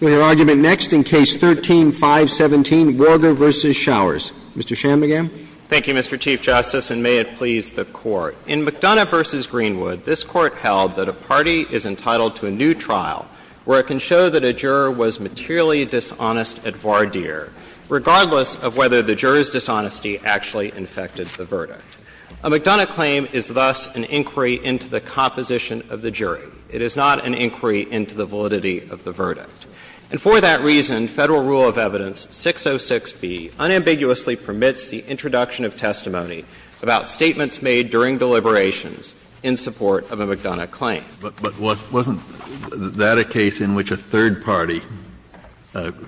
We have argument next in Case 13-517, Warger v. Shauers. Mr. Shanmugam. Thank you, Mr. Chief Justice, and may it please the Court. In McDonough v. Greenwood, this Court held that a party is entitled to a new trial where it can show that a juror was materially dishonest at voir dire, regardless of whether the juror's dishonesty actually infected the verdict. A McDonough claim is thus an inquiry into the composition of the jury. It is not an inquiry into the validity of the verdict. And for that reason, Federal Rule of Evidence 606b unambiguously permits the introduction of testimony about statements made during deliberations in support of a McDonough claim. Kennedy, but wasn't that a case in which a third party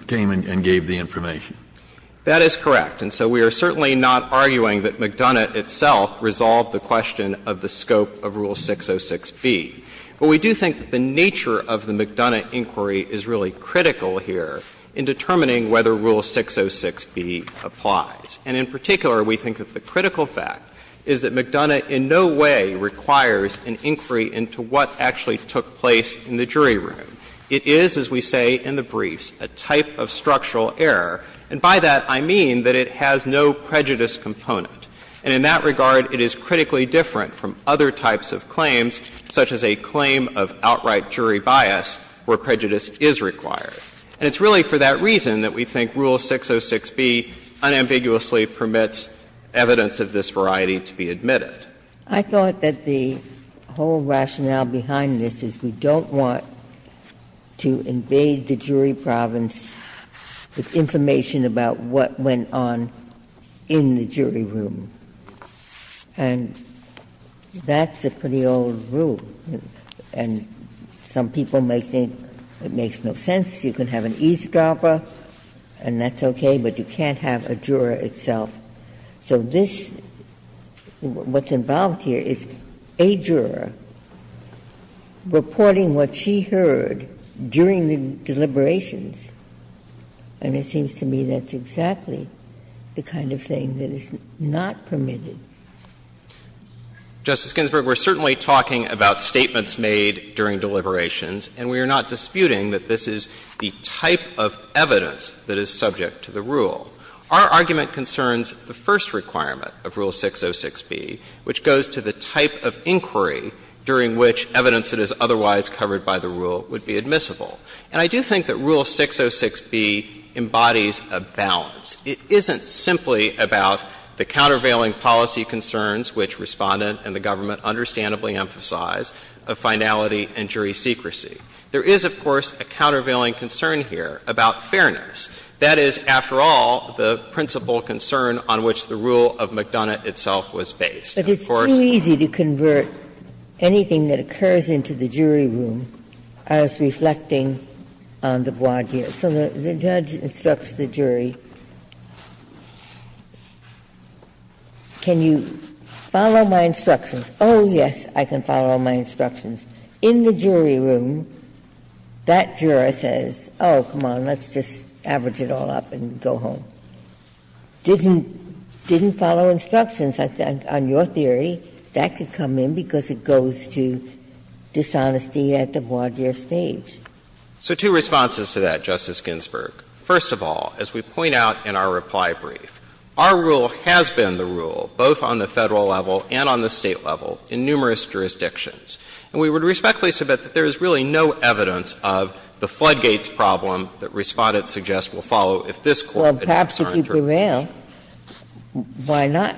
came and gave the information? Shanmugam That is correct. And so we are certainly not arguing that McDonough itself resolved the question of the scope of Rule 606b. But we do think that the nature of the McDonough inquiry is really critical here in determining whether Rule 606b applies. And in particular, we think that the critical fact is that McDonough in no way requires an inquiry into what actually took place in the jury room. It is, as we say in the briefs, a type of structural error, and by that I mean that it has no prejudice component. And in that regard, it is critically different from other types of claims, such as a claim of outright jury bias, where prejudice is required. And it's really for that reason that we think Rule 606b unambiguously permits evidence of this variety to be admitted. Ginsburg I thought that the whole rationale behind this is we don't want to invade the jury province with information about what went on in the jury room. And that's a pretty old rule. And some people may think it makes no sense. You can have an eavesdropper, and that's okay, but you can't have a juror itself. So this, what's involved here is a juror reporting what she heard during the deliberation and it seems to me that's exactly the kind of thing that is not permitted. Justice Ginsburg, we're certainly talking about statements made during deliberations, and we are not disputing that this is the type of evidence that is subject to the rule. Our argument concerns the first requirement of Rule 606b, which goes to the type of inquiry during which evidence that is otherwise covered by the rule would be admissible. And I do think that Rule 606b embodies a balance. It isn't simply about the countervailing policy concerns, which Respondent and the government understandably emphasize, of finality and jury secrecy. There is, of course, a countervailing concern here about fairness. That is, after all, the principal concern on which the rule of McDonough itself was based. Ginsburg's point about the jury reporting on the voir dire. So the judge instructs the jury, can you follow my instructions? Oh, yes, I can follow my instructions. In the jury room, that juror says, oh, come on, let's just average it all up and go home. Didn't follow instructions, I think, on your theory. That could come in because it goes to dishonesty at the voir dire stage. So two responses to that, Justice Ginsburg. First of all, as we point out in our reply brief, our rule has been the rule, both on the Federal level and on the State level, in numerous jurisdictions. And we would respectfully submit that there is really no evidence of the floodgates Ginsburg's point is, if the floodgates are absolutely there, why not?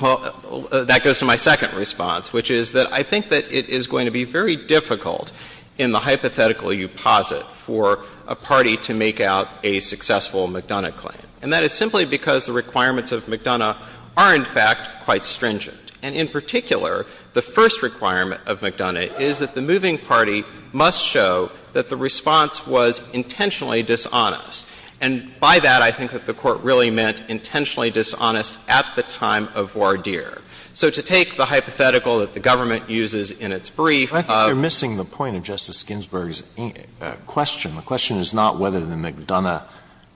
Well, that goes to my second response, which is that I think that it is going to be very difficult in the hypothetical you posit for a party to make out a successful McDonough claim. And that is simply because the requirements of McDonough are, in fact, quite stringent. And in particular, the first requirement of McDonough is that the moving party must show that the response was intentionally dishonest. And by that, I think that the Court really meant intentionally dishonest at the time of voir dire. So to take the hypothetical that the government uses in its brief of the McDonough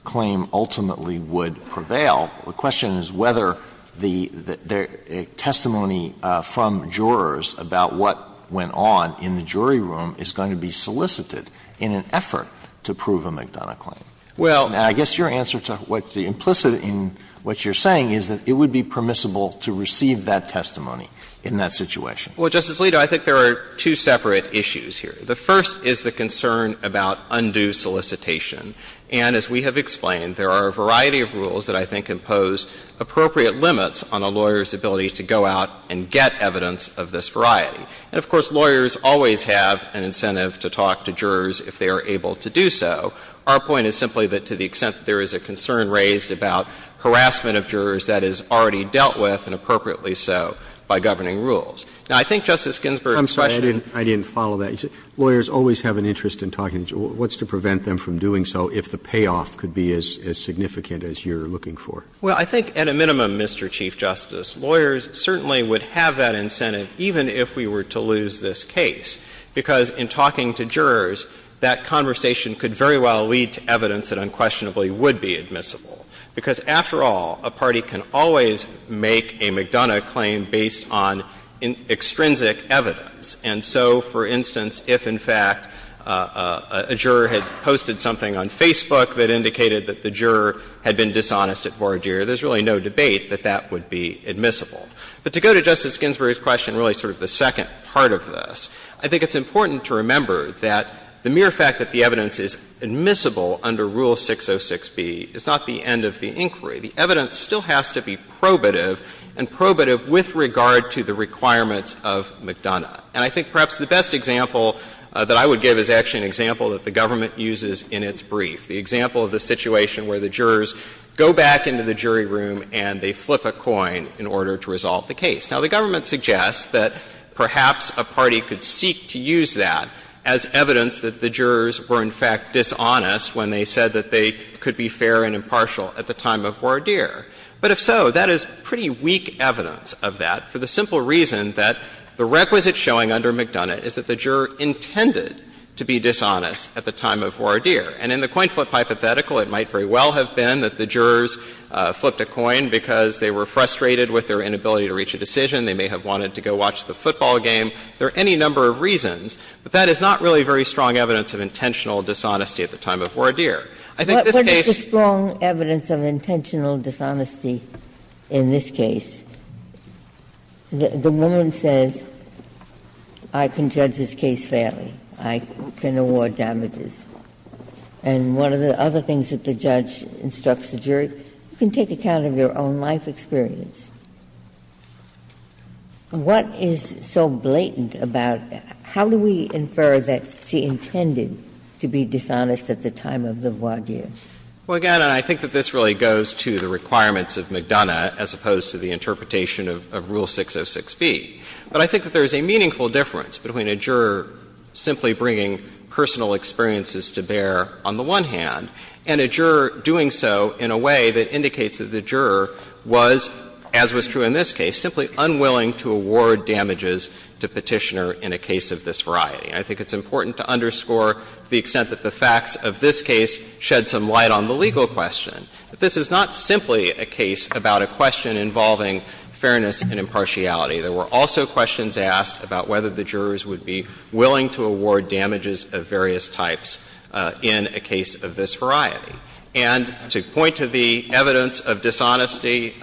claim, ultimately would prevail. The question is whether the testimony from jurors about what went on in the jury room is going to be solicited in an effort to prove a McDonough claim. And I guess your answer to what the implicit in what you're saying is that it would be permissible to receive that testimony in that situation. Well, Justice Alito, I think there are two separate issues here. The first is the concern about undue solicitation. And as we have explained, there are a variety of rules that I think impose appropriate limits on a lawyer's ability to go out and get evidence of this variety. And of course, lawyers always have an incentive to talk to jurors if they are able to do so. Our point is simply that to the extent that there is a concern raised about harassment of jurors that is already dealt with, and appropriately so, by governing rules. Now, I think Justice Ginsburg's question was the same. I'm sorry, I didn't follow that. You said lawyers always have an interest in talking to jurors. What's to prevent them from doing so if the payoff could be as significant as you're looking for? Well, I think at a minimum, Mr. Chief Justice, lawyers certainly would have that incentive even if we were to lose this case, because in talking to jurors, that conversation could very well lead to evidence that unquestionably would be admissible. Because after all, a party can always make a McDonough claim based on extrinsic evidence. And so, for instance, if in fact a juror had posted something on Facebook that indicated that the juror had been dishonest at voir dire, there's really no debate that that would be admissible. But to go to Justice Ginsburg's question, really sort of the second part of this, I think it's important to remember that the mere fact that the evidence is admissible under Rule 606b is not the end of the inquiry. The evidence still has to be probative and probative with regard to the requirements of McDonough. And I think perhaps the best example that I would give is actually an example that the government uses in its brief, the example of the situation where the jurors go back into the jury room and they flip a coin in order to resolve the case. Now, the government suggests that perhaps a party could seek to use that as evidence that the jurors were in fact dishonest when they said that they could be fair and impartial at the time of voir dire. But if so, that is pretty weak evidence of that for the simple reason that the requisite showing under McDonough is that the juror intended to be dishonest at the time of voir dire. And in the coin flip hypothetical, it might very well have been that the jurors flipped a coin because they were frustrated with their inability to reach a decision. They may have wanted to go watch the football game. There are any number of reasons, but that is not really very strong evidence of intentional dishonesty at the time of voir dire. I think this case ---- Ginsburg-Miller What is the strong evidence of intentional dishonesty in this case? The woman says, I can judge this case fairly, I can award damages. And one of the other things that the judge instructs the jury, you can take account of your own life experience. What is so blatant about that? How do we infer that she intended to be dishonest at the time of the voir dire? Shanmugam Well, again, I think that this really goes to the requirements of McDonough as opposed to the interpretation of Rule 606b. But I think that there is a meaningful difference between a juror simply bringing personal experiences to bear, on the one hand, and a juror doing so in a way that indicates that the juror was, as was true in this case, simply unwilling to award damages to Petitioner in a case of this variety. And I think it's important to underscore the extent that the facts of this case shed some light on the legal question, that this is not simply a case about a question involving fairness and impartiality. There were also questions asked about whether the jurors would be willing to award damages of various types in a case of this variety. And to point to the evidence of dishonesty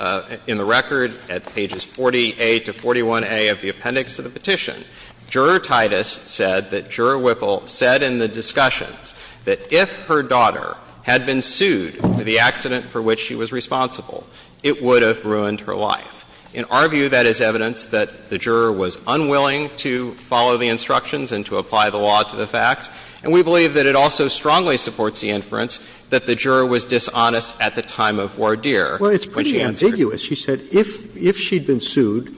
in the record at pages 40A to 41A of the appendix to the petition, Juror Titus said that Juror Whipple said in the discussions that if her daughter had been sued for the accident for which she was responsible, it would have ruined her life. In our view, that is evidence that the juror was unwilling to follow the instructions and to apply the law to the facts. And we believe that it also strongly supports the inference that the juror was dishonest at the time of voir dire when she answered. Roberts' Well, it's pretty ambiguous. She said if she had been sued,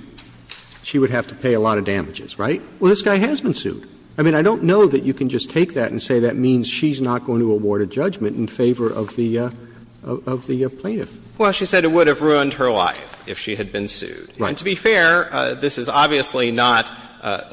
she would have to pay a lot of damages, right? Well, this guy has been sued. I mean, I don't know that you can just take that and say that means she's not going to award a judgment in favor of the plaintiff. Well, she said it would have ruined her life if she had been sued. Right. And to be fair, this is obviously not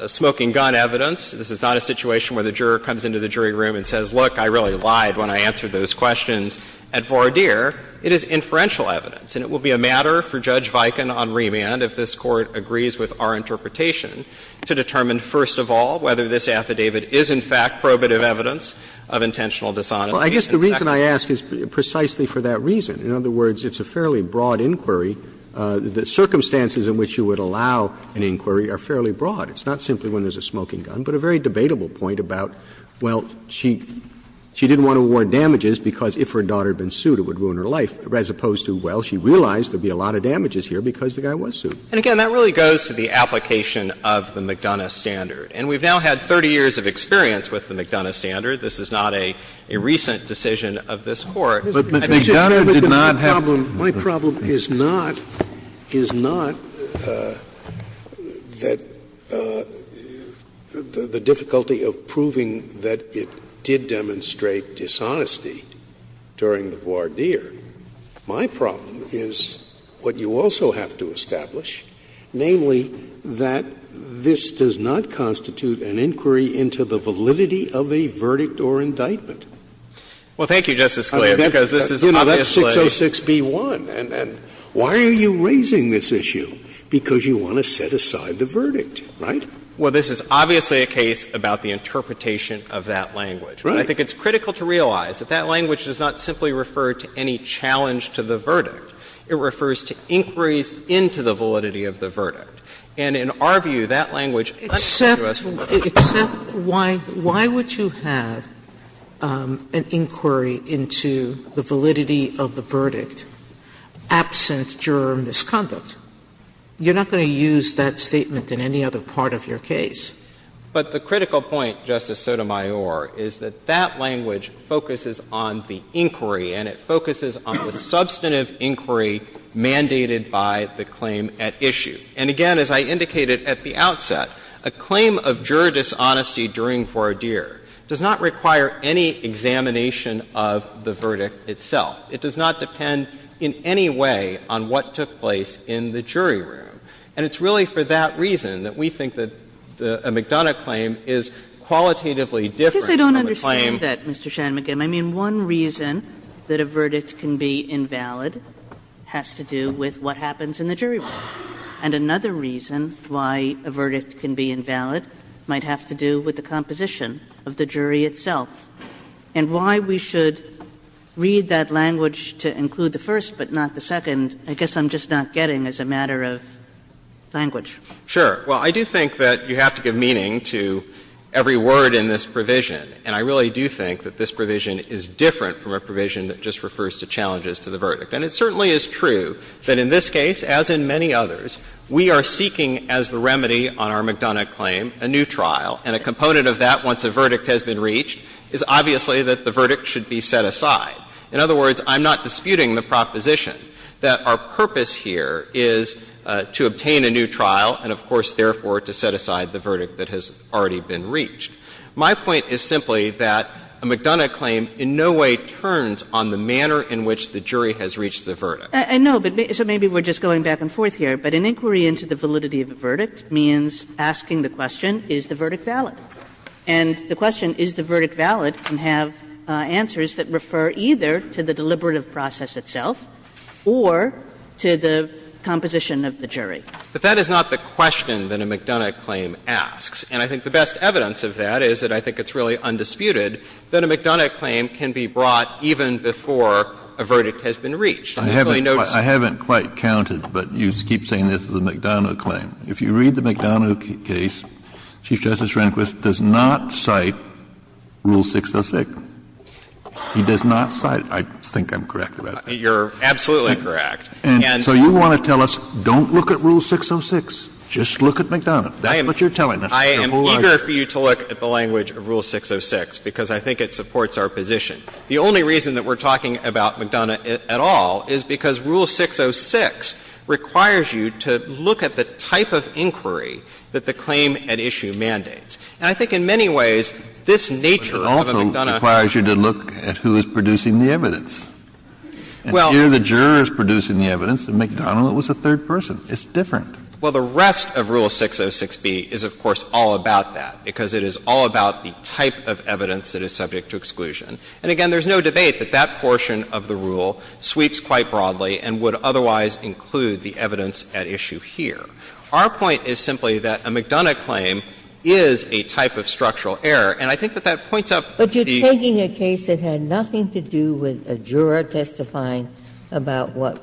smoking-gun evidence. This is not a situation where the juror comes into the jury room and says, look, I really lied when I answered those questions at voir dire. It is inferential evidence. And it will be a matter for Judge Viken on remand, if this Court agrees with our interpretation, to determine first of all whether this affidavit is in fact probative evidence of intentional dishonesty. Roberts' Well, I guess the reason I ask is precisely for that reason. In other words, it's a fairly broad inquiry. The circumstances in which you would allow an inquiry are fairly broad. It's not simply when there's a smoking gun, but a very debatable point about, well, she didn't want to award damages because if her daughter had been sued, it would ruin her life, as opposed to, well, she realized there would be a lot of damages here because the guy was sued. And again, that really goes to the application of the McDonough standard. And we've now had 30 years of experience with the McDonough standard. This is not a recent decision of this Court. But McDonough did not have to do that. Scalia, my problem is not the difficulty of proving that it did demonstrate dishonesty during the voir dire. My problem is what you also have to establish, namely, that this does not constitute an inquiry into the validity of a verdict or indictment. Well, thank you, Justice Scalia, because this is obviously a case about the interpretation of that language. I think it's critical to realize that that language does not simply refer to any challenge to the verdict. It refers to inquiries into the validity of the verdict. And in our view, that language underlies the rest of the law. Sotomayor, except why would you have an inquiry into the validity of the verdict absent juror misconduct? You're not going to use that statement in any other part of your case. But the critical point, Justice Sotomayor, is that that language focuses on the inquiry, and it focuses on the substantive inquiry mandated by the claim at issue. And again, as I indicated at the outset, a claim of juror dishonesty during voir dire does not require any examination of the verdict itself. It does not depend in any way on what took place in the jury room. And it's really for that reason that we think that a McDonough claim is qualitatively different from a claim. Kagan. Kagan. Kagan. Kagan. Kagan. Kagan. Kagan. Kagan. Kagan. Kagan. Kagan. Kagan. Kagan. Kagan. And another reason why a verdict can be invalid might have to do with the composition of the jury itself. And why we should read that language to include the first but not the second, I guess I'm just not getting as a matter of language. Sure. Well, I do think that you have to give meaning to every word in this provision. And I really do think that this provision is different from a provision that just refers to challenges to the verdict. And it certainly is true that in this case, as in many others, we are seeking as the remedy on our McDonough claim a new trial. And a component of that, once a verdict has been reached, is obviously that the verdict should be set aside. In other words, I'm not disputing the proposition that our purpose here is to obtain a new trial and, of course, therefore to set aside the verdict that has already been reached. My point is simply that a McDonough claim in no way turns on the manner in which the jury has reached the verdict. And no, so maybe we're just going back and forth here. But an inquiry into the validity of a verdict means asking the question, is the verdict valid? And the question, is the verdict valid, can have answers that refer either to the deliberative process itself or to the composition of the jury. But that is not the question that a McDonough claim asks. And I think the best evidence of that is that I think it's really undisputed that a McDonough claim can be brought even before a verdict has been reached. Kennedy, I haven't quite counted, but you keep saying this is a McDonough claim. If you read the McDonough case, Chief Justice Rehnquist does not cite Rule 606. He does not cite – I think I'm correct about that. You're absolutely correct. And so you want to tell us, don't look at Rule 606, just look at McDonough. That's what you're telling us. I am eager for you to look at the language of Rule 606, because I think it supports our position. The only reason that we're talking about McDonough at all is because Rule 606 requires you to look at the type of inquiry that the claim at issue mandates. And I think in many ways, this nature of a McDonough claim is a very different nature. Kennedy, but it also requires you to look at who is producing the evidence. Well, here the juror is producing the evidence, and McDonough was the third person. It's different. Well, the rest of Rule 606b is, of course, all about that, because it is all about the type of evidence that is subject to exclusion. And again, there's no debate that that portion of the rule sweeps quite broadly and would otherwise include the evidence at issue here. Our point is simply that a McDonough claim is a type of structural error, and I think that that points up the – But you're taking a case that had nothing to do with a juror testifying about what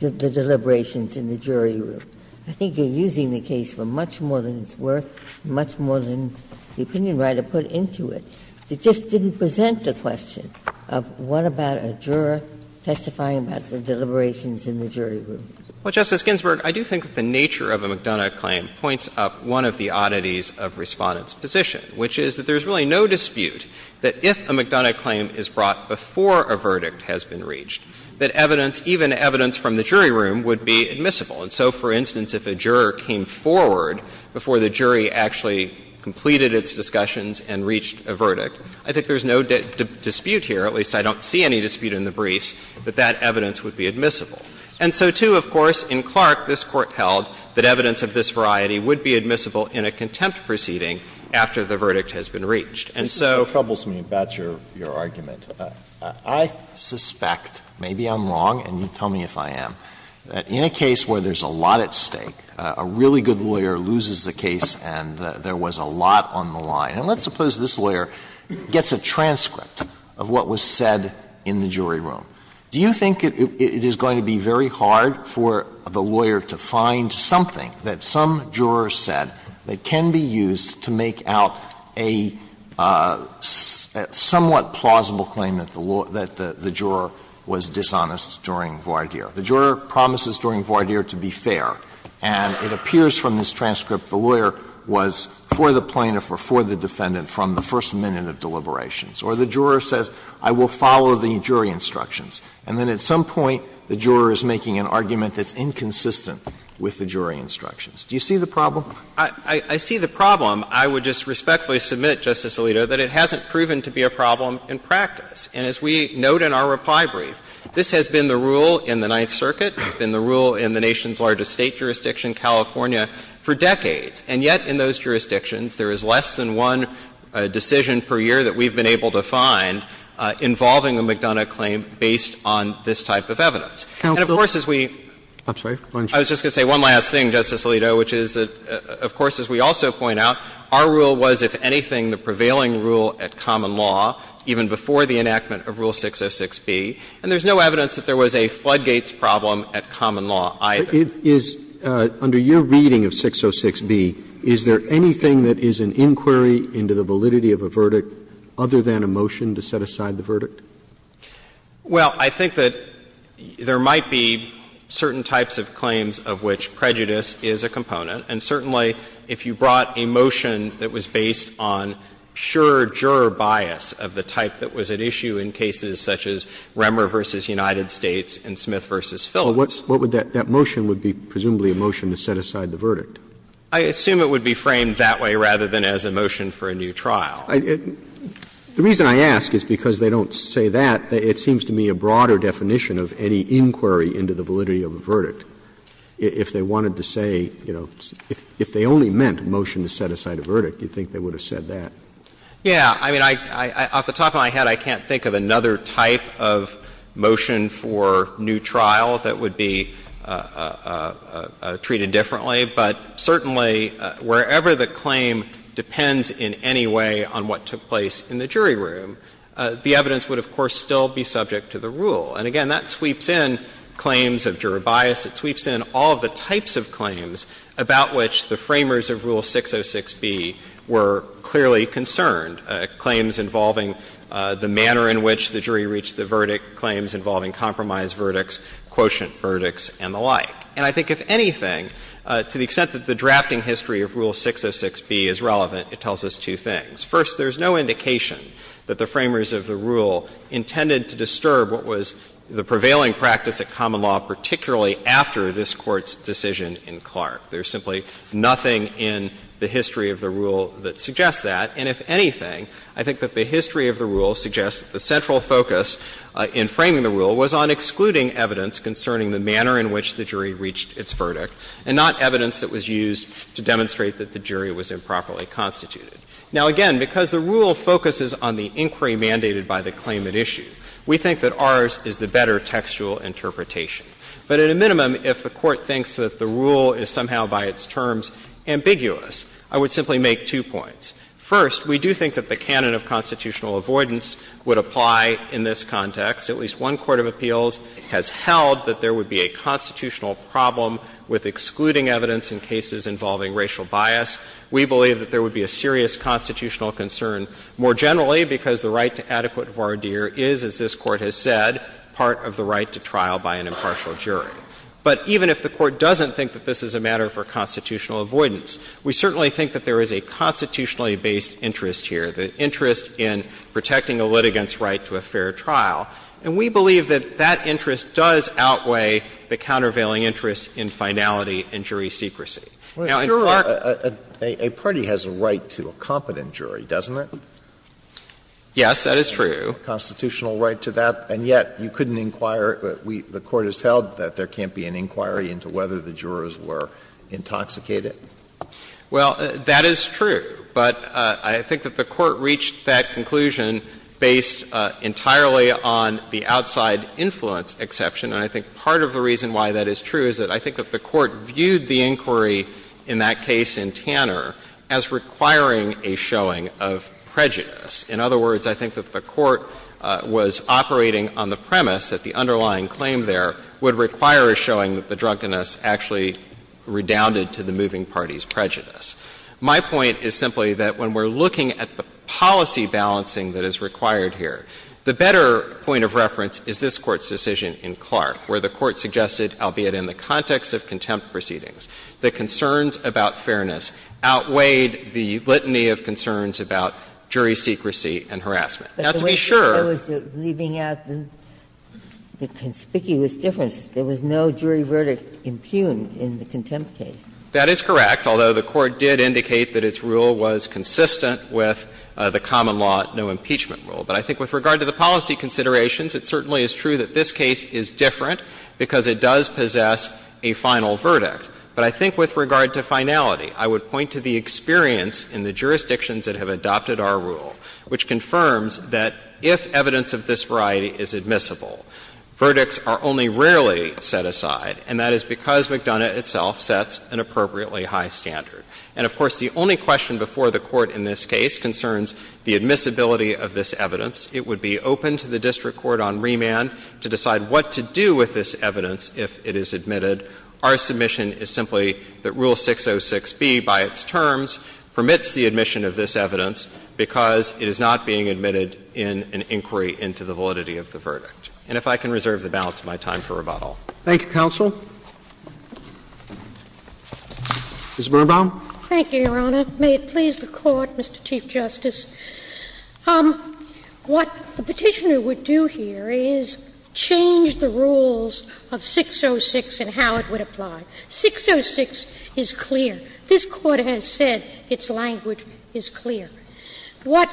the deliberations in the jury room. I think you're using the case for much more than it's worth, much more than the opinion writer put into it. It just didn't present the question of what about a juror testifying about the deliberations in the jury room. Well, Justice Ginsburg, I do think that the nature of a McDonough claim points up one of the oddities of Respondent's position, which is that there's really no dispute that if a McDonough claim is brought before a verdict has been reached, that evidence – even evidence from the jury room would be admissible. And so, for instance, if a juror came forward before the jury actually completed its discussions and reached a verdict, I think there's no dispute here, at least I don't see any dispute in the briefs, that that evidence would be admissible. And so, too, of course, in Clark, this Court held that evidence of this variety would be admissible in a contempt proceeding after the verdict has been reached. And so it troubles me about your argument. I suspect, maybe I'm wrong and you tell me if I am, that in a case where there's a lot at stake, a really good lawyer loses the case and there was a lot on the line. And let's suppose this lawyer gets a transcript of what was said in the jury room. Do you think it is going to be very hard for the lawyer to find something that some of the jurors have already used to make out a somewhat plausible claim that the juror was dishonest during Vardir? The juror promises during Vardir to be fair, and it appears from this transcript the lawyer was for the plaintiff or for the defendant from the first minute of deliberations. Or the juror says, I will follow the jury instructions, and then at some point the juror is making an argument that's inconsistent with the jury instructions. Do you see the problem? I see the problem. I would just respectfully submit, Justice Alito, that it hasn't proven to be a problem in practice. And as we note in our reply brief, this has been the rule in the Ninth Circuit, it's been the rule in the nation's largest State jurisdiction, California, for decades. And yet in those jurisdictions, there is less than one decision per year that we've been able to find involving a McDonough claim based on this type of evidence. And of course, as we — I'm sorry. I was just going to say one last thing, Justice Alito, which is that, of course, as we also point out, our rule was, if anything, the prevailing rule at common law, even before the enactment of Rule 606b. And there's no evidence that there was a Floodgates problem at common law either. It is — under your reading of 606b, is there anything that is an inquiry into the validity of a verdict other than a motion to set aside the verdict? Well, I think that there might be certain types of claims of which prejudice is a component. And certainly, if you brought a motion that was based on pure juror bias of the type that was at issue in cases such as Remmer v. United States and Smith v. Phillips. But what would that — that motion would be presumably a motion to set aside the verdict? I assume it would be framed that way rather than as a motion for a new trial. The reason I ask is because they don't say that. It seems to me a broader definition of any inquiry into the validity of a verdict. If they wanted to say, you know, if they only meant a motion to set aside a verdict, you'd think they would have said that. Yeah. I mean, I — off the top of my head, I can't think of another type of motion for new trial that would be treated differently. But certainly, wherever the claim depends in any way on what took place in the jury room, the evidence would, of course, still be subject to the rule. And again, that sweeps in claims of juror bias. It sweeps in all of the types of claims about which the framers of Rule 606b were clearly concerned, claims involving the manner in which the jury reached the verdict, claims involving compromise verdicts, quotient verdicts, and the like. And I think, if anything, to the extent that the drafting history of Rule 606b is relevant, it tells us two things. First, there's no indication that the framers of the rule intended to disturb what was the prevailing practice at common law, particularly after this Court's decision in Clark. There's simply nothing in the history of the rule that suggests that. And if anything, I think that the history of the rule suggests that the central focus in framing the rule was on excluding evidence concerning the manner in which the jury reached its verdict and not evidence that was used to demonstrate that the jury was improperly constituted. Now, again, because the rule focuses on the inquiry mandated by the claim at issue, we think that ours is the better textual interpretation. But at a minimum, if the Court thinks that the rule is somehow by its terms ambiguous, I would simply make two points. First, we do think that the canon of constitutional avoidance would apply in this context. At least one court of appeals has held that there would be a constitutional problem with excluding evidence in cases involving racial bias. We believe that there would be a serious constitutional concern more generally because the right to adequate voir dire is, as this Court has said, part of the right to trial by an impartial jury. But even if the Court doesn't think that this is a matter for constitutional avoidance, we certainly think that there is a constitutionally based interest here, the interest in protecting a litigant's right to a fair trial. And we believe that that interest does outweigh the countervailing interest in finality and jury secrecy. Now, in part, a party has a right to a competent jury, doesn't it? Yes, that is true. A constitutional right to that, and yet you couldn't inquire, the Court has held that there can't be an inquiry into whether the jurors were intoxicated. Well, that is true. But I think that the Court reached that conclusion based entirely on the outside influence exception, and I think part of the reason why that is true is that I think that the Court viewed the inquiry in that case in Tanner as requiring a showing of prejudice. In other words, I think that the Court was operating on the premise that the underlying claim there would require a showing that the drunkenness actually redounded to the moving party's prejudice. My point is simply that when we're looking at the policy balancing that is required here, the better point of reference is this Court's decision in Clark, where the Court suggested, albeit in the context of contempt proceedings, that concerns about fairness outweighed the litany of concerns about jury secrecy and harassment. Now, to be sure there was no jury verdict impugned in the contempt case. That is correct, although the Court did indicate that its rule was consistent with the common law no impeachment rule. But I think with regard to the policy considerations, it certainly is true that this case is different because it does possess a final verdict. But I think with regard to finality, I would point to the experience in the jurisdictions that have adopted our rule, which confirms that if evidence of this variety is admissible, verdicts are only rarely set aside, and that is because McDonough itself sets an appropriate and appropriately high standard. And, of course, the only question before the Court in this case concerns the admissibility of this evidence. It would be open to the district court on remand to decide what to do with this evidence if it is admitted. Our submission is simply that Rule 606b by its terms permits the admission of this evidence because it is not being admitted in an inquiry into the validity of the verdict. And if I can reserve the balance of my time for rebuttal. Roberts Thank you, counsel. Ms. Birnbaum. Birnbaum Thank you, Your Honor. May it please the Court, Mr. Chief Justice. What the Petitioner would do here is change the rules of 606 and how it would apply. 606 is clear. This Court has said its language is clear. What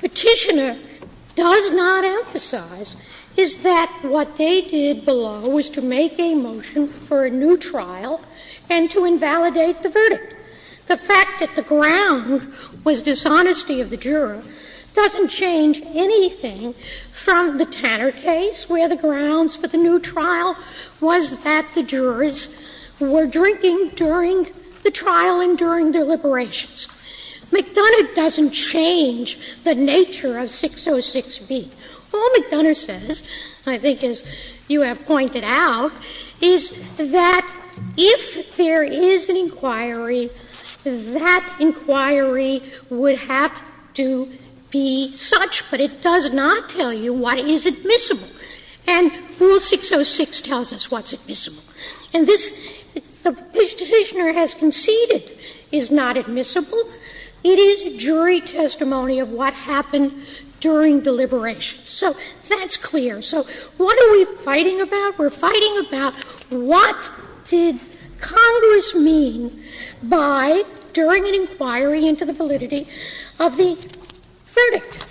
Petitioner does not emphasize is that what they did below was to make a motion for a new trial and to invalidate the verdict. The fact that the ground was dishonesty of the juror doesn't change anything from the Tanner case, where the grounds for the new trial was that the jurors were drinking during the trial and during their liberations. McDonough doesn't change the nature of 606b. All McDonough says, I think as you have pointed out, is that if there is an inquiry, that inquiry would have to be such, but it does not tell you what is admissible. And Rule 606 tells us what's admissible. And this, the Petitioner has conceded is not admissible. It is jury testimony of what happened during deliberations. So that's clear. So what are we fighting about? We're fighting about what did Congress mean by, during an inquiry into the validity of the verdict.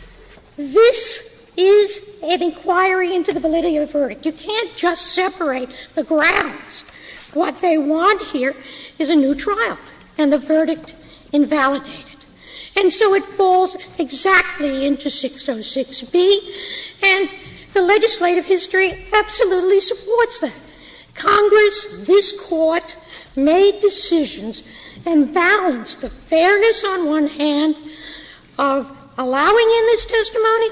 This is an inquiry into the validity of the verdict. You can't just separate the grounds. What they want here is a new trial and the verdict invalidated. And so it falls exactly into 606b, and the legislative history absolutely supports that. Congress, this Court, made decisions and balanced the fairness on one hand of allowing in this testimony,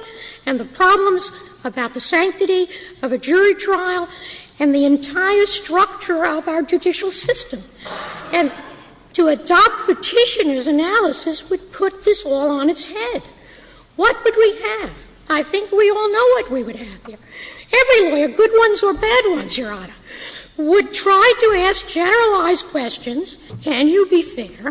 and the problems about the sanctity of a jury trial, and the entire structure of our judicial system. And to adopt Petitioner's analysis would put this all on its head. What would we have? I think we all know what we would have here. Every lawyer, good ones or bad ones, Your Honor, would try to ask generalized questions, can you be fair,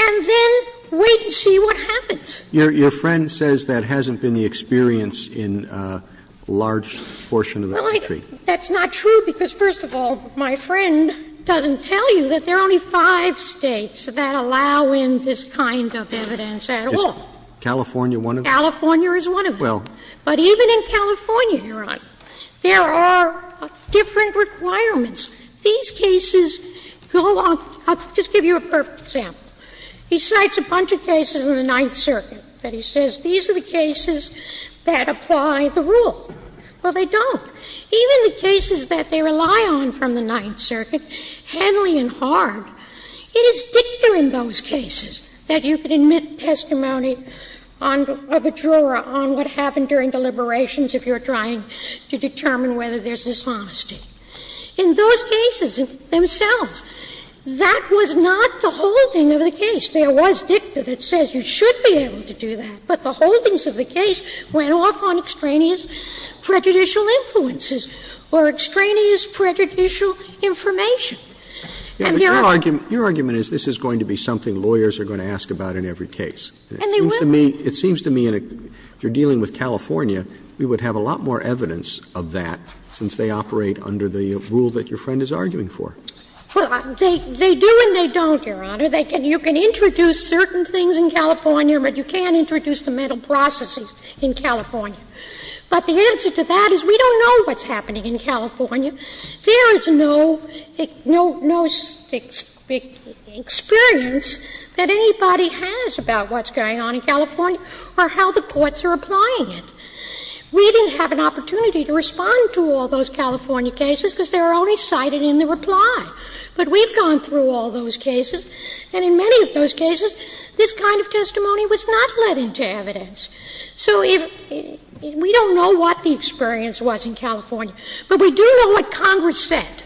and then wait and see what happens. Roberts Your friend says that hasn't been the experience in a large portion of the country. Well, that's not true, because first of all, my friend doesn't tell you that there are only five States that allow in this kind of evidence at all. Is California one of them? California is one of them. Well. But even in California, Your Honor, there are different requirements. These cases go on – I'll just give you a perfect example. He cites a bunch of cases in the Ninth Circuit that he says, these are the cases that apply the rule. Well, they don't. Even the cases that they rely on from the Ninth Circuit, Henley and Hard, it is dicta in those cases that you can admit testimony of a juror on what happened during deliberations if you're trying to determine whether there's dishonesty. In those cases themselves, that was not the holding of the case. There was dicta that says you should be able to do that, but the holdings of the case went off on extraneous prejudicial influences or extraneous prejudicial information. And there are others. Roberts Your argument is this is going to be something lawyers are going to ask about in every case. And it seems to me, if you're dealing with California, we would have a lot more evidence of that since they operate under the rule that your friend is arguing for. Well, they do and they don't, Your Honor. You can introduce certain things in California, but you can't introduce the mental processes in California. But the answer to that is we don't know what's happening in California. There is no – no experience that anybody has about what's going on in California or how the courts are applying it. We didn't have an opportunity to respond to all those California cases because they were only cited in the reply. But we've gone through all those cases, and in many of those cases, this kind of testimony was not led into evidence. So if – we don't know what the experience was in California, but we do know what Congress said.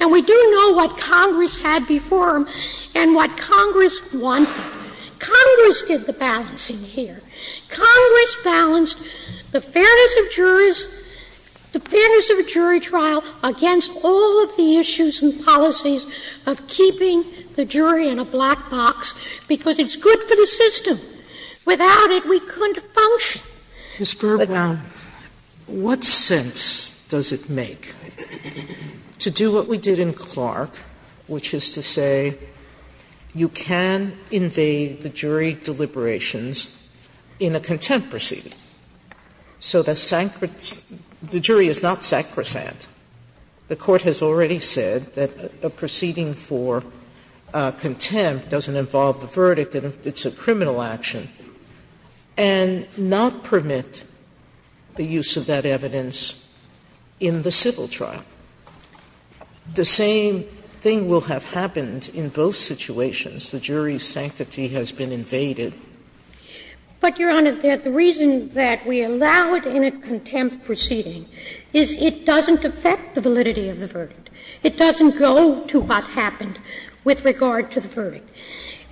And we do know what Congress had before them and what Congress wanted. Congress did the balancing here. Congress balanced the fairness of jurors – the fairness of a jury trial against all of the issues and policies of keeping the jury in a black box because it's good for the system. Without it, we couldn't function. Sotomayor, what sense does it make to do what we did in Clark, which is to say you can invade the jury deliberations in a contempt proceeding, so the jury is not sacrosanct. The Court has already said that a proceeding for contempt doesn't involve the verdict and it's a criminal action, and not permit the use of that evidence in the civil trial. The same thing will have happened in both situations. The jury's sanctity has been invaded. But, Your Honor, the reason that we allow it in a contempt proceeding is it doesn't affect the validity of the verdict. It doesn't go to what happened with regard to the verdict.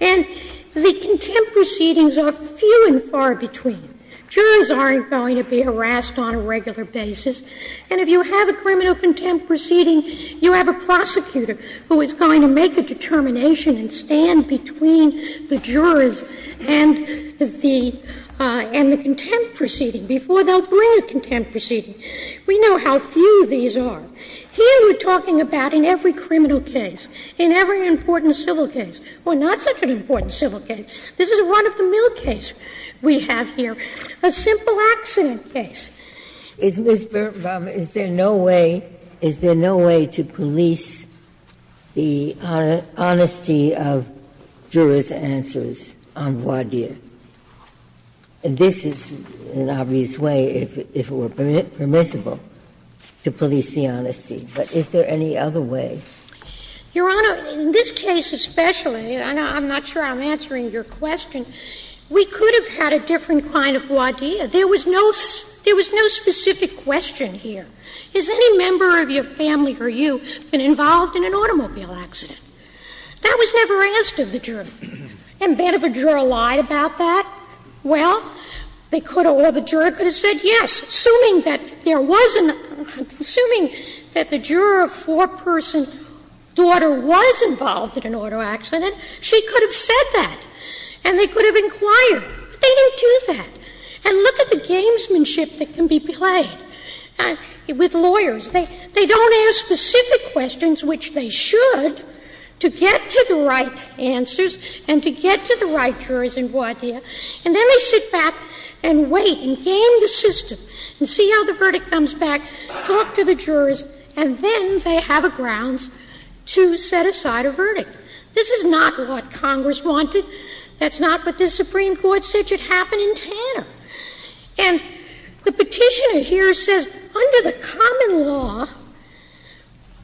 And the contempt proceedings are few and far between. Jurors aren't going to be harassed on a regular basis. And if you have a criminal contempt proceeding, you have a prosecutor who is going to make a determination and stand between the jurors and the contempt proceeding before they'll bring a contempt proceeding. We know how few these are. Here we're talking about in every criminal case, in every important civil case. Well, not such an important civil case. This is a run-of-the-mill case we have here, a simple accident case. Ginsburg. Is there no way to police the honesty of jurors' answers on voir dire? And this is an obvious way, if it were permissible, to police the honesty. But is there any other way? Your Honor, in this case especially, and I'm not sure I'm answering your question, we could have had a different kind of voir dire. There was no specific question here. Has any member of your family or you been involved in an automobile accident? That was never asked of the juror. And beneath a juror lied about that? Well, they could have, or the juror could have said yes, assuming that there was an, assuming that the juror of four-person daughter was involved in an auto accident, she could have said that, and they could have inquired. But they don't do that. And look at the gamesmanship that can be played with lawyers. They don't ask specific questions, which they should, to get to the right answers and to get to the right jurors in voir dire, and then they sit back and wait and game the system and see how the verdict comes back, talk to the jurors, and then they have a grounds to set aside a verdict. This is not what Congress wanted. That's not what the Supreme Court said should happen in Tanner. And the Petitioner here says, under the common law,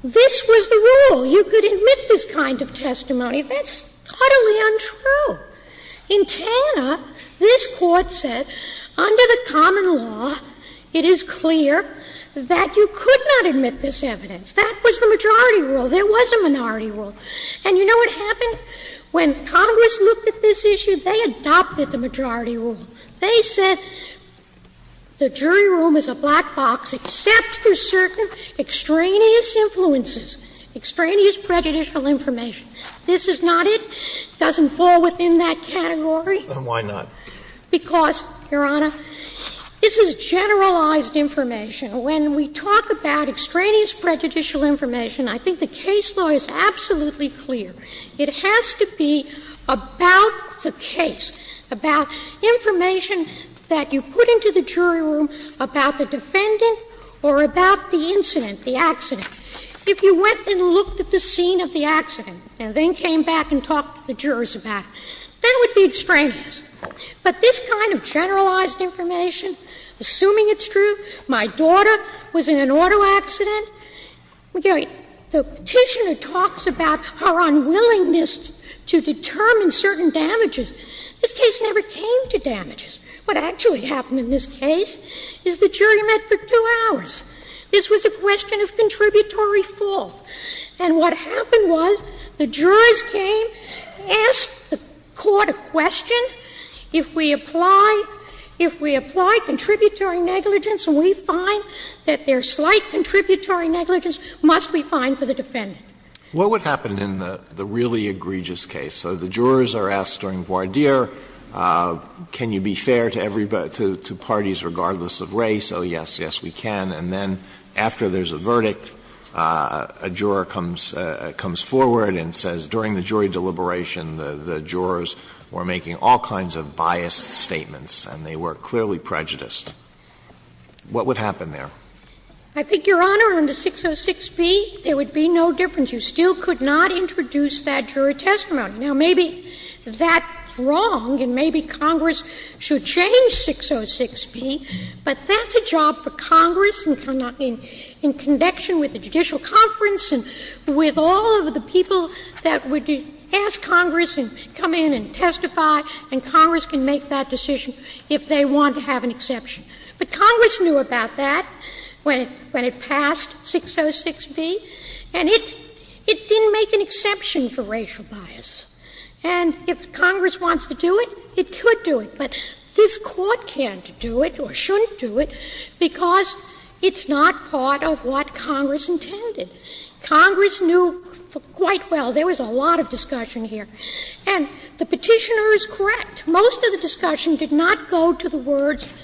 this was the rule. You could admit this kind of testimony. That's utterly untrue. In Tanner, this Court said, under the common law, it is clear that you could not admit this evidence. That was the majority rule. There was a minority rule. And you know what happened? When Congress looked at this issue, they adopted the majority rule. They said the jury room is a black box except for certain extraneous influences, extraneous prejudicial information. This is not it. It doesn't fall within that category. And why not? Because, Your Honor, this is generalized information. When we talk about extraneous prejudicial information, I think the case law is absolutely clear. It has to be about the case, about information that you put into the jury room about the defendant or about the incident, the accident. If you went and looked at the scene of the accident and then came back and talked to the jurors about it, that would be extraneous. But this kind of generalized information, assuming it's true, my daughter was in an auto accident, the Petitioner talks about her unwillingness to determine certain damages. This case never came to damages. What actually happened in this case is the jury met for two hours. This was a question of contributory fault. And what happened was the jurors came, asked the court a question. If we apply, if we apply contributory negligence and we find that there's slight contributory negligence, must we find for the defendant? Alito, what would happen in the really egregious case? So the jurors are asked during voir dire, can you be fair to everybody, to parties regardless of race? Oh, yes, yes, we can. And then after there's a verdict, a juror comes forward and says, during the jury deliberation, the jurors were making all kinds of biased statements and they were clearly prejudiced. What would happen there? I think, Your Honor, under 606b, there would be no difference. You still could not introduce that jury testimony. Now, maybe that's wrong and maybe Congress should change 606b, but that's a job for the jurors in connection with the judicial conference and with all of the people that would ask Congress and come in and testify, and Congress can make that decision if they want to have an exception. But Congress knew about that when it passed 606b, and it didn't make an exception for racial bias. And if Congress wants to do it, it could do it. But this Court can't do it or shouldn't do it because it's not part of what Congress intended. Congress knew quite well there was a lot of discussion here. And the Petitioner is correct. Most of the discussion did not go to the words,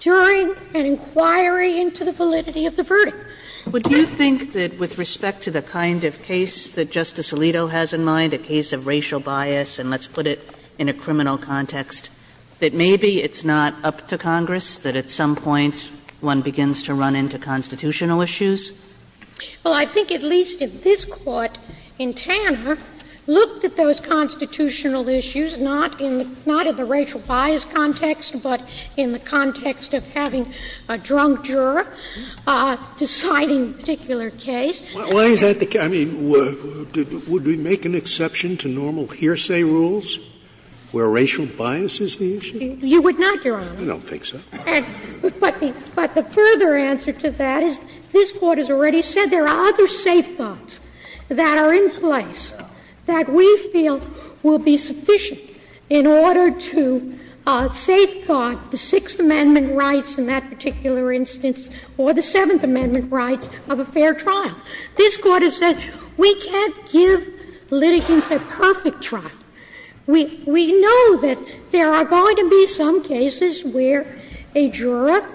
during an inquiry into the validity of the verdict. Sotomayor, would you think that with respect to the kind of case that Justice Alito has in mind, a case of racial bias, and let's put it in a criminal context, that maybe it's not up to Congress, that at some point one begins to run into constitutional issues? Well, I think at least in this Court, in Tanner, looked at those constitutional issues, not in the racial bias context, but in the context of having a drunk juror deciding a particular case. Why is that the case? I mean, would we make an exception to normal hearsay rules where racial bias is a question? You would not, Your Honor. I don't think so. But the further answer to that is this Court has already said there are other safeguards that are in place that we feel will be sufficient in order to safeguard the Sixth Amendment rights in that particular instance or the Seventh Amendment rights of a fair trial. This Court has said we can't give litigants a perfect trial. We know that there are going to be some cases where a juror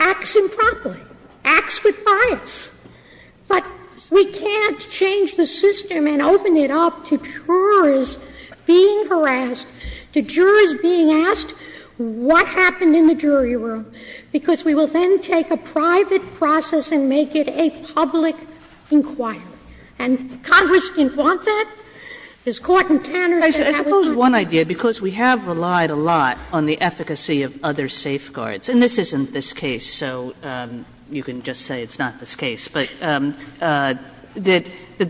acts improperly, acts with bias, but we can't change the system and open it up to jurors being harassed, to jurors being asked what happened in the jury room, because we will then take a private process and make it a public inquiry. And Congress didn't want that. Is Court in Tanner's favor? Kagan. Kagan. I suppose one idea, because we have relied a lot on the efficacy of other safeguards and this isn't this case, so you can just say it's not this case, but that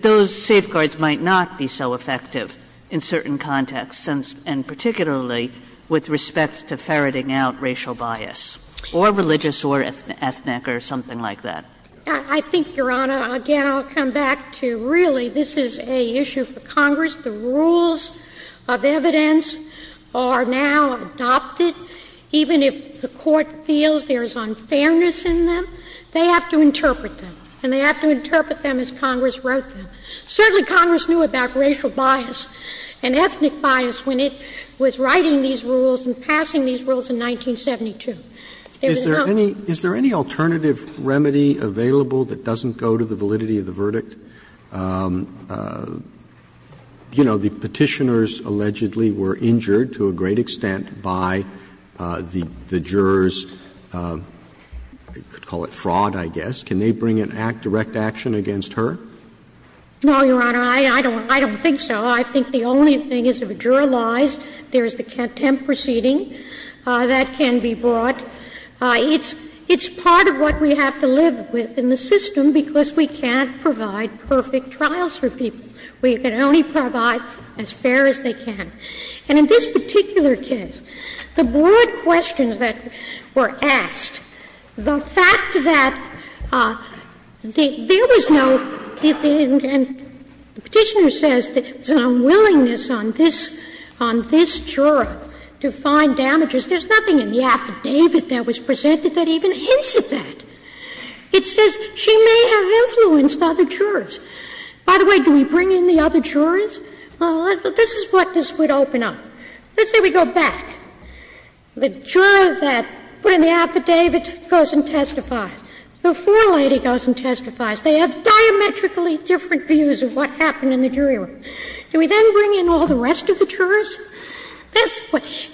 those safeguards might not be so effective in certain contexts, and particularly with respect to ferreting out racial bias, or religious or ethnic or something like that. I think, Your Honor, again, I'll come back to, really, this is an issue for Congress. The rules of evidence are now adopted, even if the Court feels there is unfairness in them, they have to interpret them, and they have to interpret them as Congress wrote them. Certainly Congress knew about racial bias and ethnic bias when it was writing these rules and passing these rules in 1972. There is not. Roberts' Is there any alternative remedy available that doesn't go to the validity of the verdict? You know, the Petitioners allegedly were injured, to a great extent, by the jurors' you could call it fraud, I guess. Can they bring a direct action against her? Kagan No, Your Honor, I don't think so. I think the only thing is if a juror lies, there's the contempt proceeding. That can be brought. It's part of what we have to live with in the system, because we can't provide perfect trials for people. We can only provide as fair as they can. And in this particular case, the broad questions that were asked, the fact that there was no, and the Petitioner says there's an unwillingness on this juror to find damages. There's nothing in the affidavit that was presented that even hints at that. It says she may have influenced other jurors. By the way, do we bring in the other jurors? This is what this would open up. Let's say we go back. The juror that put in the affidavit goes and testifies. The forelady goes and testifies. They have diametrically different views of what happened in the jury room. Do we then bring in all the rest of the jurors?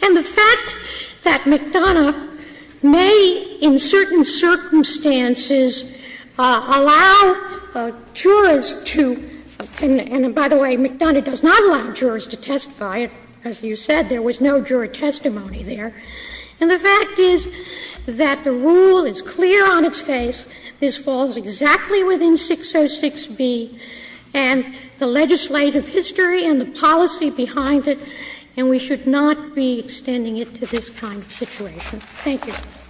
And the fact that McDonough may in certain circumstances allow jurors to, and by the way, McDonough does not allow jurors to testify, as you said, there was no juror testimony there. And the fact is that the rule is clear on its face. This falls exactly within 606B and the legislative history and the policy behind it, and we should not be extending it to this kind of situation. Thank you. Roberts.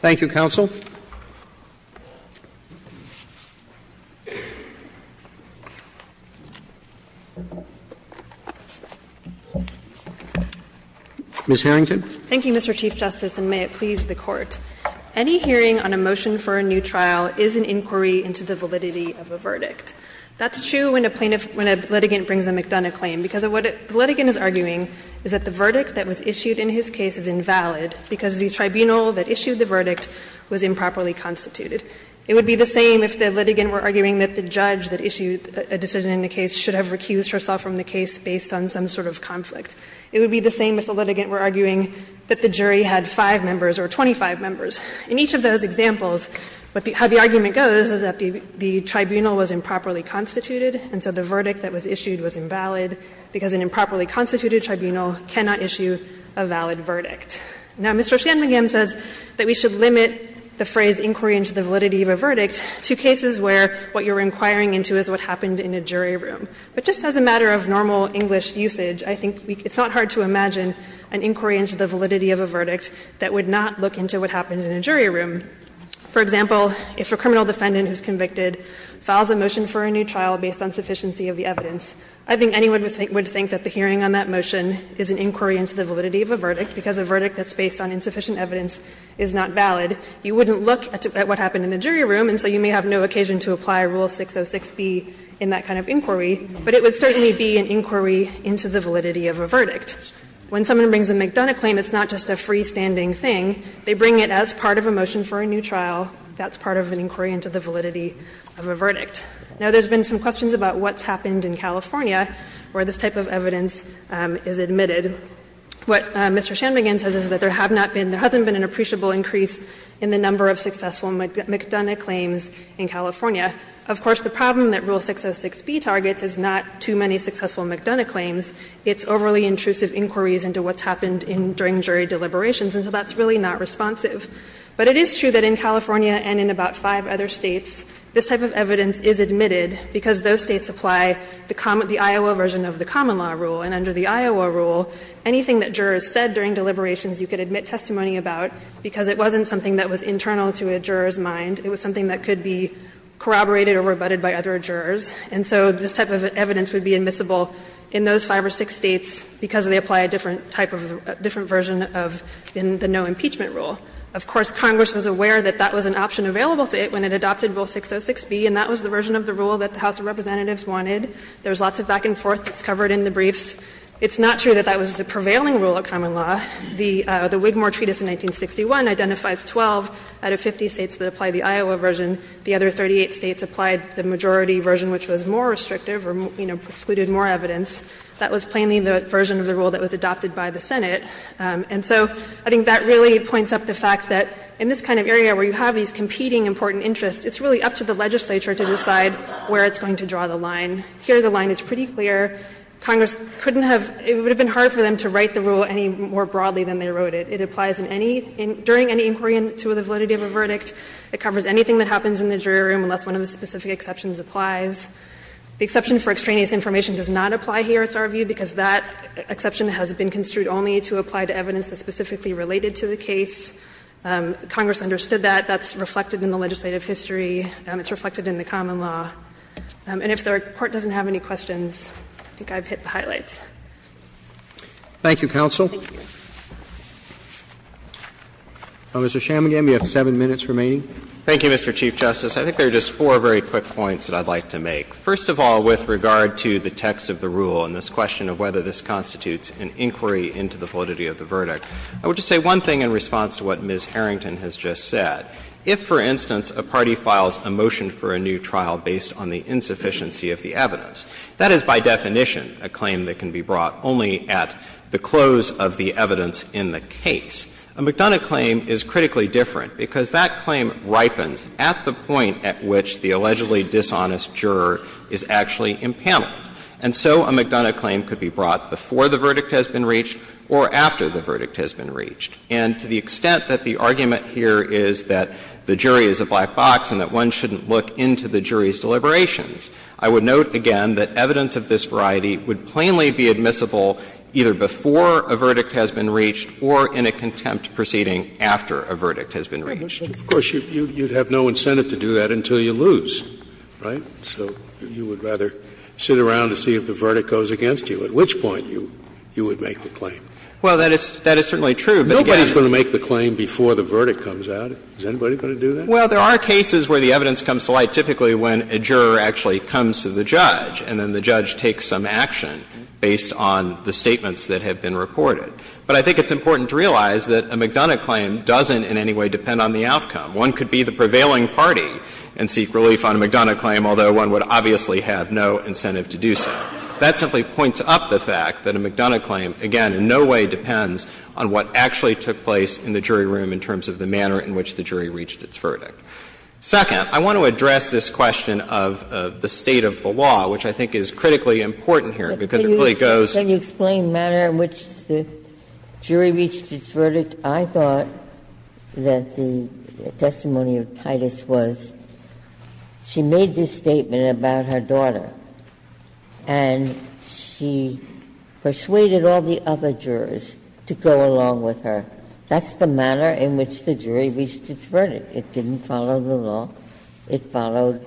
Thank you, counsel. Ms. Harrington. Thank you, Mr. Chief Justice, and may it please the Court. Any hearing on a motion for a new trial is an inquiry into the validity of a verdict. That's true when a plaintiff, when a litigant brings a McDonough claim, because what the litigant is arguing is that the verdict that was issued in his case is invalid because the tribunal that issued the verdict was improperly constituted. It would be the same if the litigant were arguing that the judge that issued a decision in the case should have recused herself from the case based on some sort of conflict. It would be the same if the litigant were arguing that the jury had five members or 25 members. In each of those examples, how the argument goes is that the tribunal was improperly constituted, and so the verdict that was issued was invalid because an improperly constituted tribunal cannot issue a valid verdict. Now, Mr. Shanmugam says that we should limit the phrase inquiry into the validity of a verdict to cases where what you're inquiring into is what happened in a jury room. But just as a matter of normal English usage, I think it's not hard to imagine an inquiry into the validity of a verdict that would not look into what happened in a jury room. For example, if a criminal defendant who's convicted files a motion for a new trial based on sufficiency of the evidence, I think anyone would think that the hearing on that motion is an inquiry into the validity of a verdict, because a verdict that's based on insufficient evidence is not valid. You wouldn't look at what happened in the jury room, and so you may have no occasion to apply Rule 606B in that kind of inquiry, but it would certainly be an inquiry into the validity of a verdict. When someone brings a McDonough claim, it's not just a freestanding thing. They bring it as part of a motion for a new trial. That's part of an inquiry into the validity of a verdict. Now, there's been some questions about what's happened in California where this type of evidence is admitted. What Mr. Shanmugam says is that there have not been, there hasn't been an appreciable increase in the number of successful McDonough claims in California. Of course, the problem that Rule 606B targets is not too many successful McDonough claims. It's overly intrusive inquiries into what's happened in, during jury deliberations, and so that's really not responsive. But it is true that in California and in about five other States, this type of evidence is admitted because those States apply the Iowa version of the common law rule. And under the Iowa rule, anything that jurors said during deliberations you could admit testimony about, because it wasn't something that was internal to a juror's mind, it was something that could be corroborated or rebutted by other jurors. And so this type of evidence would be admissible in those five or six States because they apply a different type of, a different version of the no impeachment rule. Of course, Congress was aware that that was an option available to it when it adopted Rule 606B, and that was the version of the rule that the House of Representatives wanted. There's lots of back and forth that's covered in the briefs. It's not true that that was the prevailing rule of common law. The Wigmore Treatise in 1961 identifies 12 out of 50 States that apply the Iowa version. The other 38 States applied the majority version, which was more restrictive or, you know, excluded more evidence. That was plainly the version of the rule that was adopted by the Senate. And so I think that really points up the fact that in this kind of area where you have these competing important interests, it's really up to the legislature to decide where it's going to draw the line. Here, the line is pretty clear. Congress couldn't have, it would have been hard for them to write the rule any more broadly than they wrote it. It applies in any — during any inquiry into the validity of a verdict. It covers anything that happens in the jury room unless one of the specific exceptions applies. The exception for extraneous information does not apply here, it's our view, because that exception has been construed only to apply to evidence that's specifically related to the case. Congress understood that. That's reflected in the legislative history. It's reflected in the common law. And if the Court doesn't have any questions, I think I've hit the highlights. Roberts. Thank you, counsel. Mr. Chambingham, you have seven minutes remaining. Thank you, Mr. Chief Justice. I think there are just four very quick points that I'd like to make. First of all, with regard to the text of the rule and this question of whether this constitutes an inquiry into the validity of the verdict, I would just say one thing in response to what Ms. Harrington has just said. If, for instance, a party files a motion for a new trial based on the insufficiency of the evidence, that is by definition a claim that can be brought only at the close of the evidence in the case. A McDonough claim is critically different because that claim ripens at the point at which the allegedly dishonest juror is actually impaneled. And so a McDonough claim could be brought before the verdict has been reached or after the verdict has been reached. And to the extent that the argument here is that the jury is a black box and that one shouldn't look into the jury's deliberations, I would note, again, that evidence of this variety would plainly be admissible either before a verdict has been reached or in a contempt proceeding after a verdict has been reached. Scalia, of course, you'd have no incentive to do that until you lose, right? So you would rather sit around and see if the verdict goes against you, at which point you would make the claim. Well, that is certainly true, but again the claim before the verdict comes out, is anybody going to do that? Well, there are cases where the evidence comes to light typically when a juror actually comes to the judge and then the judge takes some action based on the statements that have been reported. But I think it's important to realize that a McDonough claim doesn't in any way depend on the outcome. One could be the prevailing party and seek relief on a McDonough claim, although one would obviously have no incentive to do so. That simply points up the fact that a McDonough claim, again, in no way depends on what actually took place in the jury room in terms of the manner in which the jury reached its verdict. Second, I want to address this question of the state of the law, which I think is critically important here, because it really goes. Ginsburg. Can you explain the manner in which the jury reached its verdict? I thought that the testimony of Titus was she made this statement about her daughter, and she persuaded all the other jurors to go along with her. That's the manner in which the jury reached its verdict. It didn't follow the law. It followed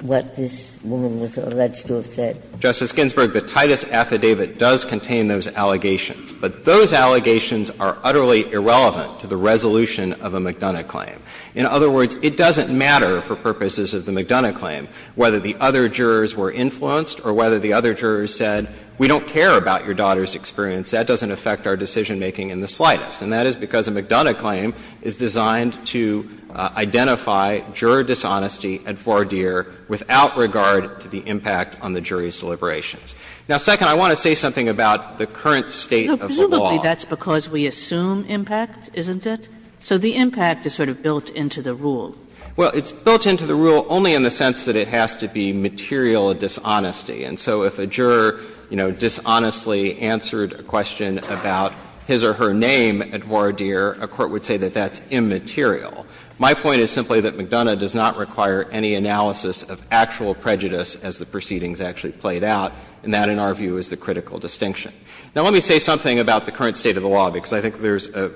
what this woman was alleged to have said. Justice Ginsburg, the Titus affidavit does contain those allegations, but those allegations are utterly irrelevant to the resolution of a McDonough claim. In other words, it doesn't matter for purposes of the McDonough claim whether the other jurors were influenced or whether the other jurors said, we don't care about your daughter's experience. That doesn't affect our decision-making in the slightest. And that is because a McDonough claim is designed to identify juror dishonesty at voir dire without regard to the impact on the jury's deliberations. Now, second, I want to say something about the current state of the law. Presumably that's because we assume impact, isn't it? So the impact is sort of built into the rule. Well, it's built into the rule only in the sense that it has to be material dishonesty. And so if a juror, you know, dishonestly answered a question about his or her name at voir dire, a court would say that that's immaterial. My point is simply that McDonough does not require any analysis of actual prejudice as the proceedings actually played out, and that, in our view, is the critical distinction. Now, let me say something about the current state of the law, because I think there's a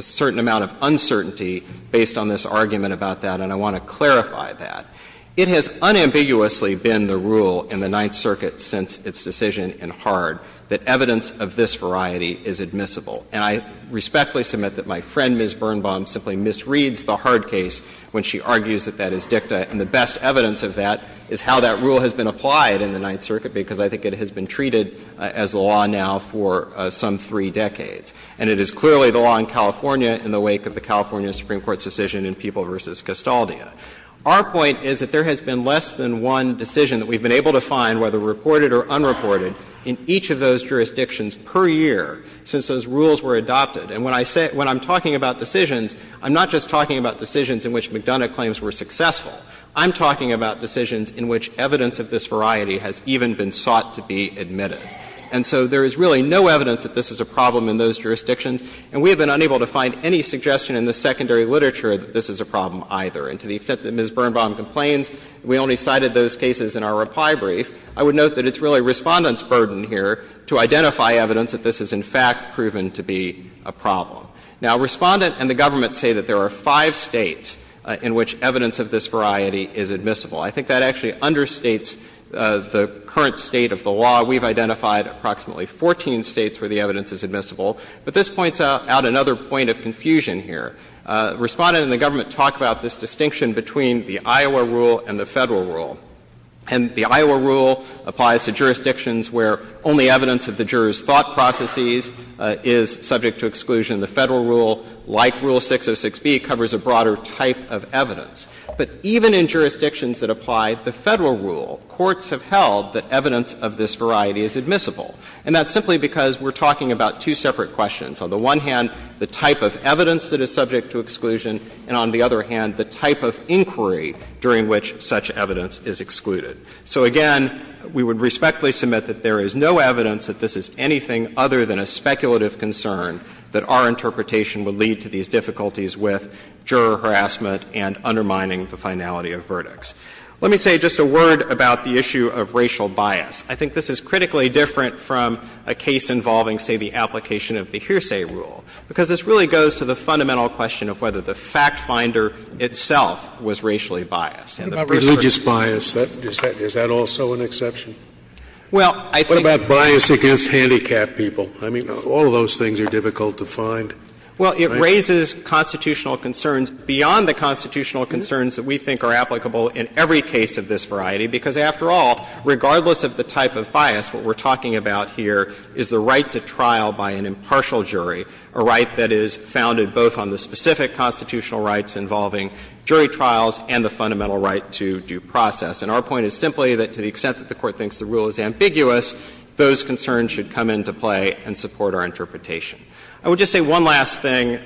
certain amount of uncertainty based on this argument about that, and I want to clarify that. It has unambiguously been the rule in the Ninth Circuit since its decision in Hard that evidence of this variety is admissible. And I respectfully submit that my friend, Ms. Birnbaum, simply misreads the Hard case when she argues that that is dicta, and the best evidence of that is how that rule has been applied in the Ninth Circuit, because I think it has been treated as the law now for some three decades. And it is clearly the law in California in the wake of the California Supreme Court's decision in People v. Castaldia. Our point is that there has been less than one decision that we've been able to find, whether reported or unreported, in each of those jurisdictions per year since those rules were adopted. And when I say – when I'm talking about decisions, I'm not just talking about decisions in which McDonough claims were successful. I'm talking about decisions in which evidence of this variety has even been sought to be admitted. And so there is really no evidence that this is a problem in those jurisdictions, and we have been unable to find any suggestion in the secondary literature that this is a problem either. And to the extent that Ms. Birnbaum complains, we only cited those cases in our reply brief, I would note that it's really Respondent's burden here to identify evidence that this is, in fact, proven to be a problem. Now, Respondent and the government say that there are five States in which evidence of this variety is admissible. I think that actually understates the current state of the law. We've identified approximately 14 States where the evidence is admissible. But this points out another point of confusion here. Respondent and the government talk about this distinction between the Iowa rule and the Federal rule. And the Iowa rule applies to jurisdictions where only evidence of the jurors' thought processes is subject to exclusion. The Federal rule, like Rule 606b, covers a broader type of evidence. But even in jurisdictions that apply the Federal rule, courts have held that evidence of this variety is admissible. And that's simply because we're talking about two separate questions. On the one hand, the type of evidence that is subject to exclusion, and on the other hand, the type of inquiry during which such evidence is excluded. So again, we would respectfully submit that there is no evidence that this is anything other than a speculative concern that our interpretation would lead to these difficulties with juror harassment and undermining the finality of verdicts. Let me say just a word about the issue of racial bias. I think this is critically different from a case involving, say, the application of the hearsay rule, because this really goes to the fundamental question of whether the fact-finder itself was racially biased. And the researchers' view is that the fact-finder itself was racially biased. Scalia, is that also an exception? Well, I think the fact-finder itself was racially biased. What about bias against handicapped people? I mean, all of those things are difficult to find. Well, it raises constitutional concerns beyond the constitutional concerns that we think are applicable in every case of this variety, because after all, regardless of the type of bias, what we're talking about here is the right to trial by an impartial jury, a right that is founded both on the specific constitutional rights involving jury trials and the fundamental right to due process. And our point is simply that to the extent that the Court thinks the rule is ambiguous, those concerns should come into play and support our interpretation. I would just say one last thing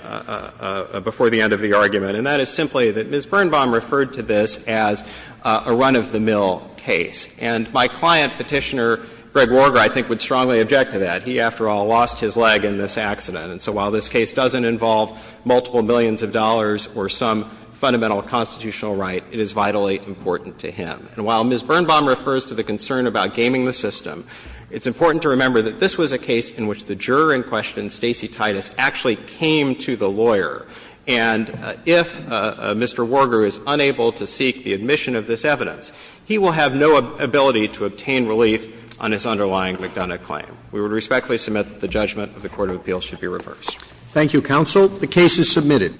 before the end of the argument, and that is simply that Ms. Birnbaum referred to this as a run-of-the-mill case. And my client, Petitioner Greg Warger, I think would strongly object to that. He, after all, lost his leg in this accident. And so while this case doesn't involve multiple millions of dollars or some fundamental constitutional right, it is vitally important to him. And while Ms. Birnbaum refers to the concern about gaming the system, it's important to remember that this was a case in which the juror in question, Stacey Titus, actually came to the lawyer. And if Mr. Warger is unable to seek the admission of this evidence, he will have no ability to obtain relief on his underlying McDonough claim. We would respectfully submit that the judgment of the court of appeals should be reversed. Roberts. Thank you, counsel. The case is submitted.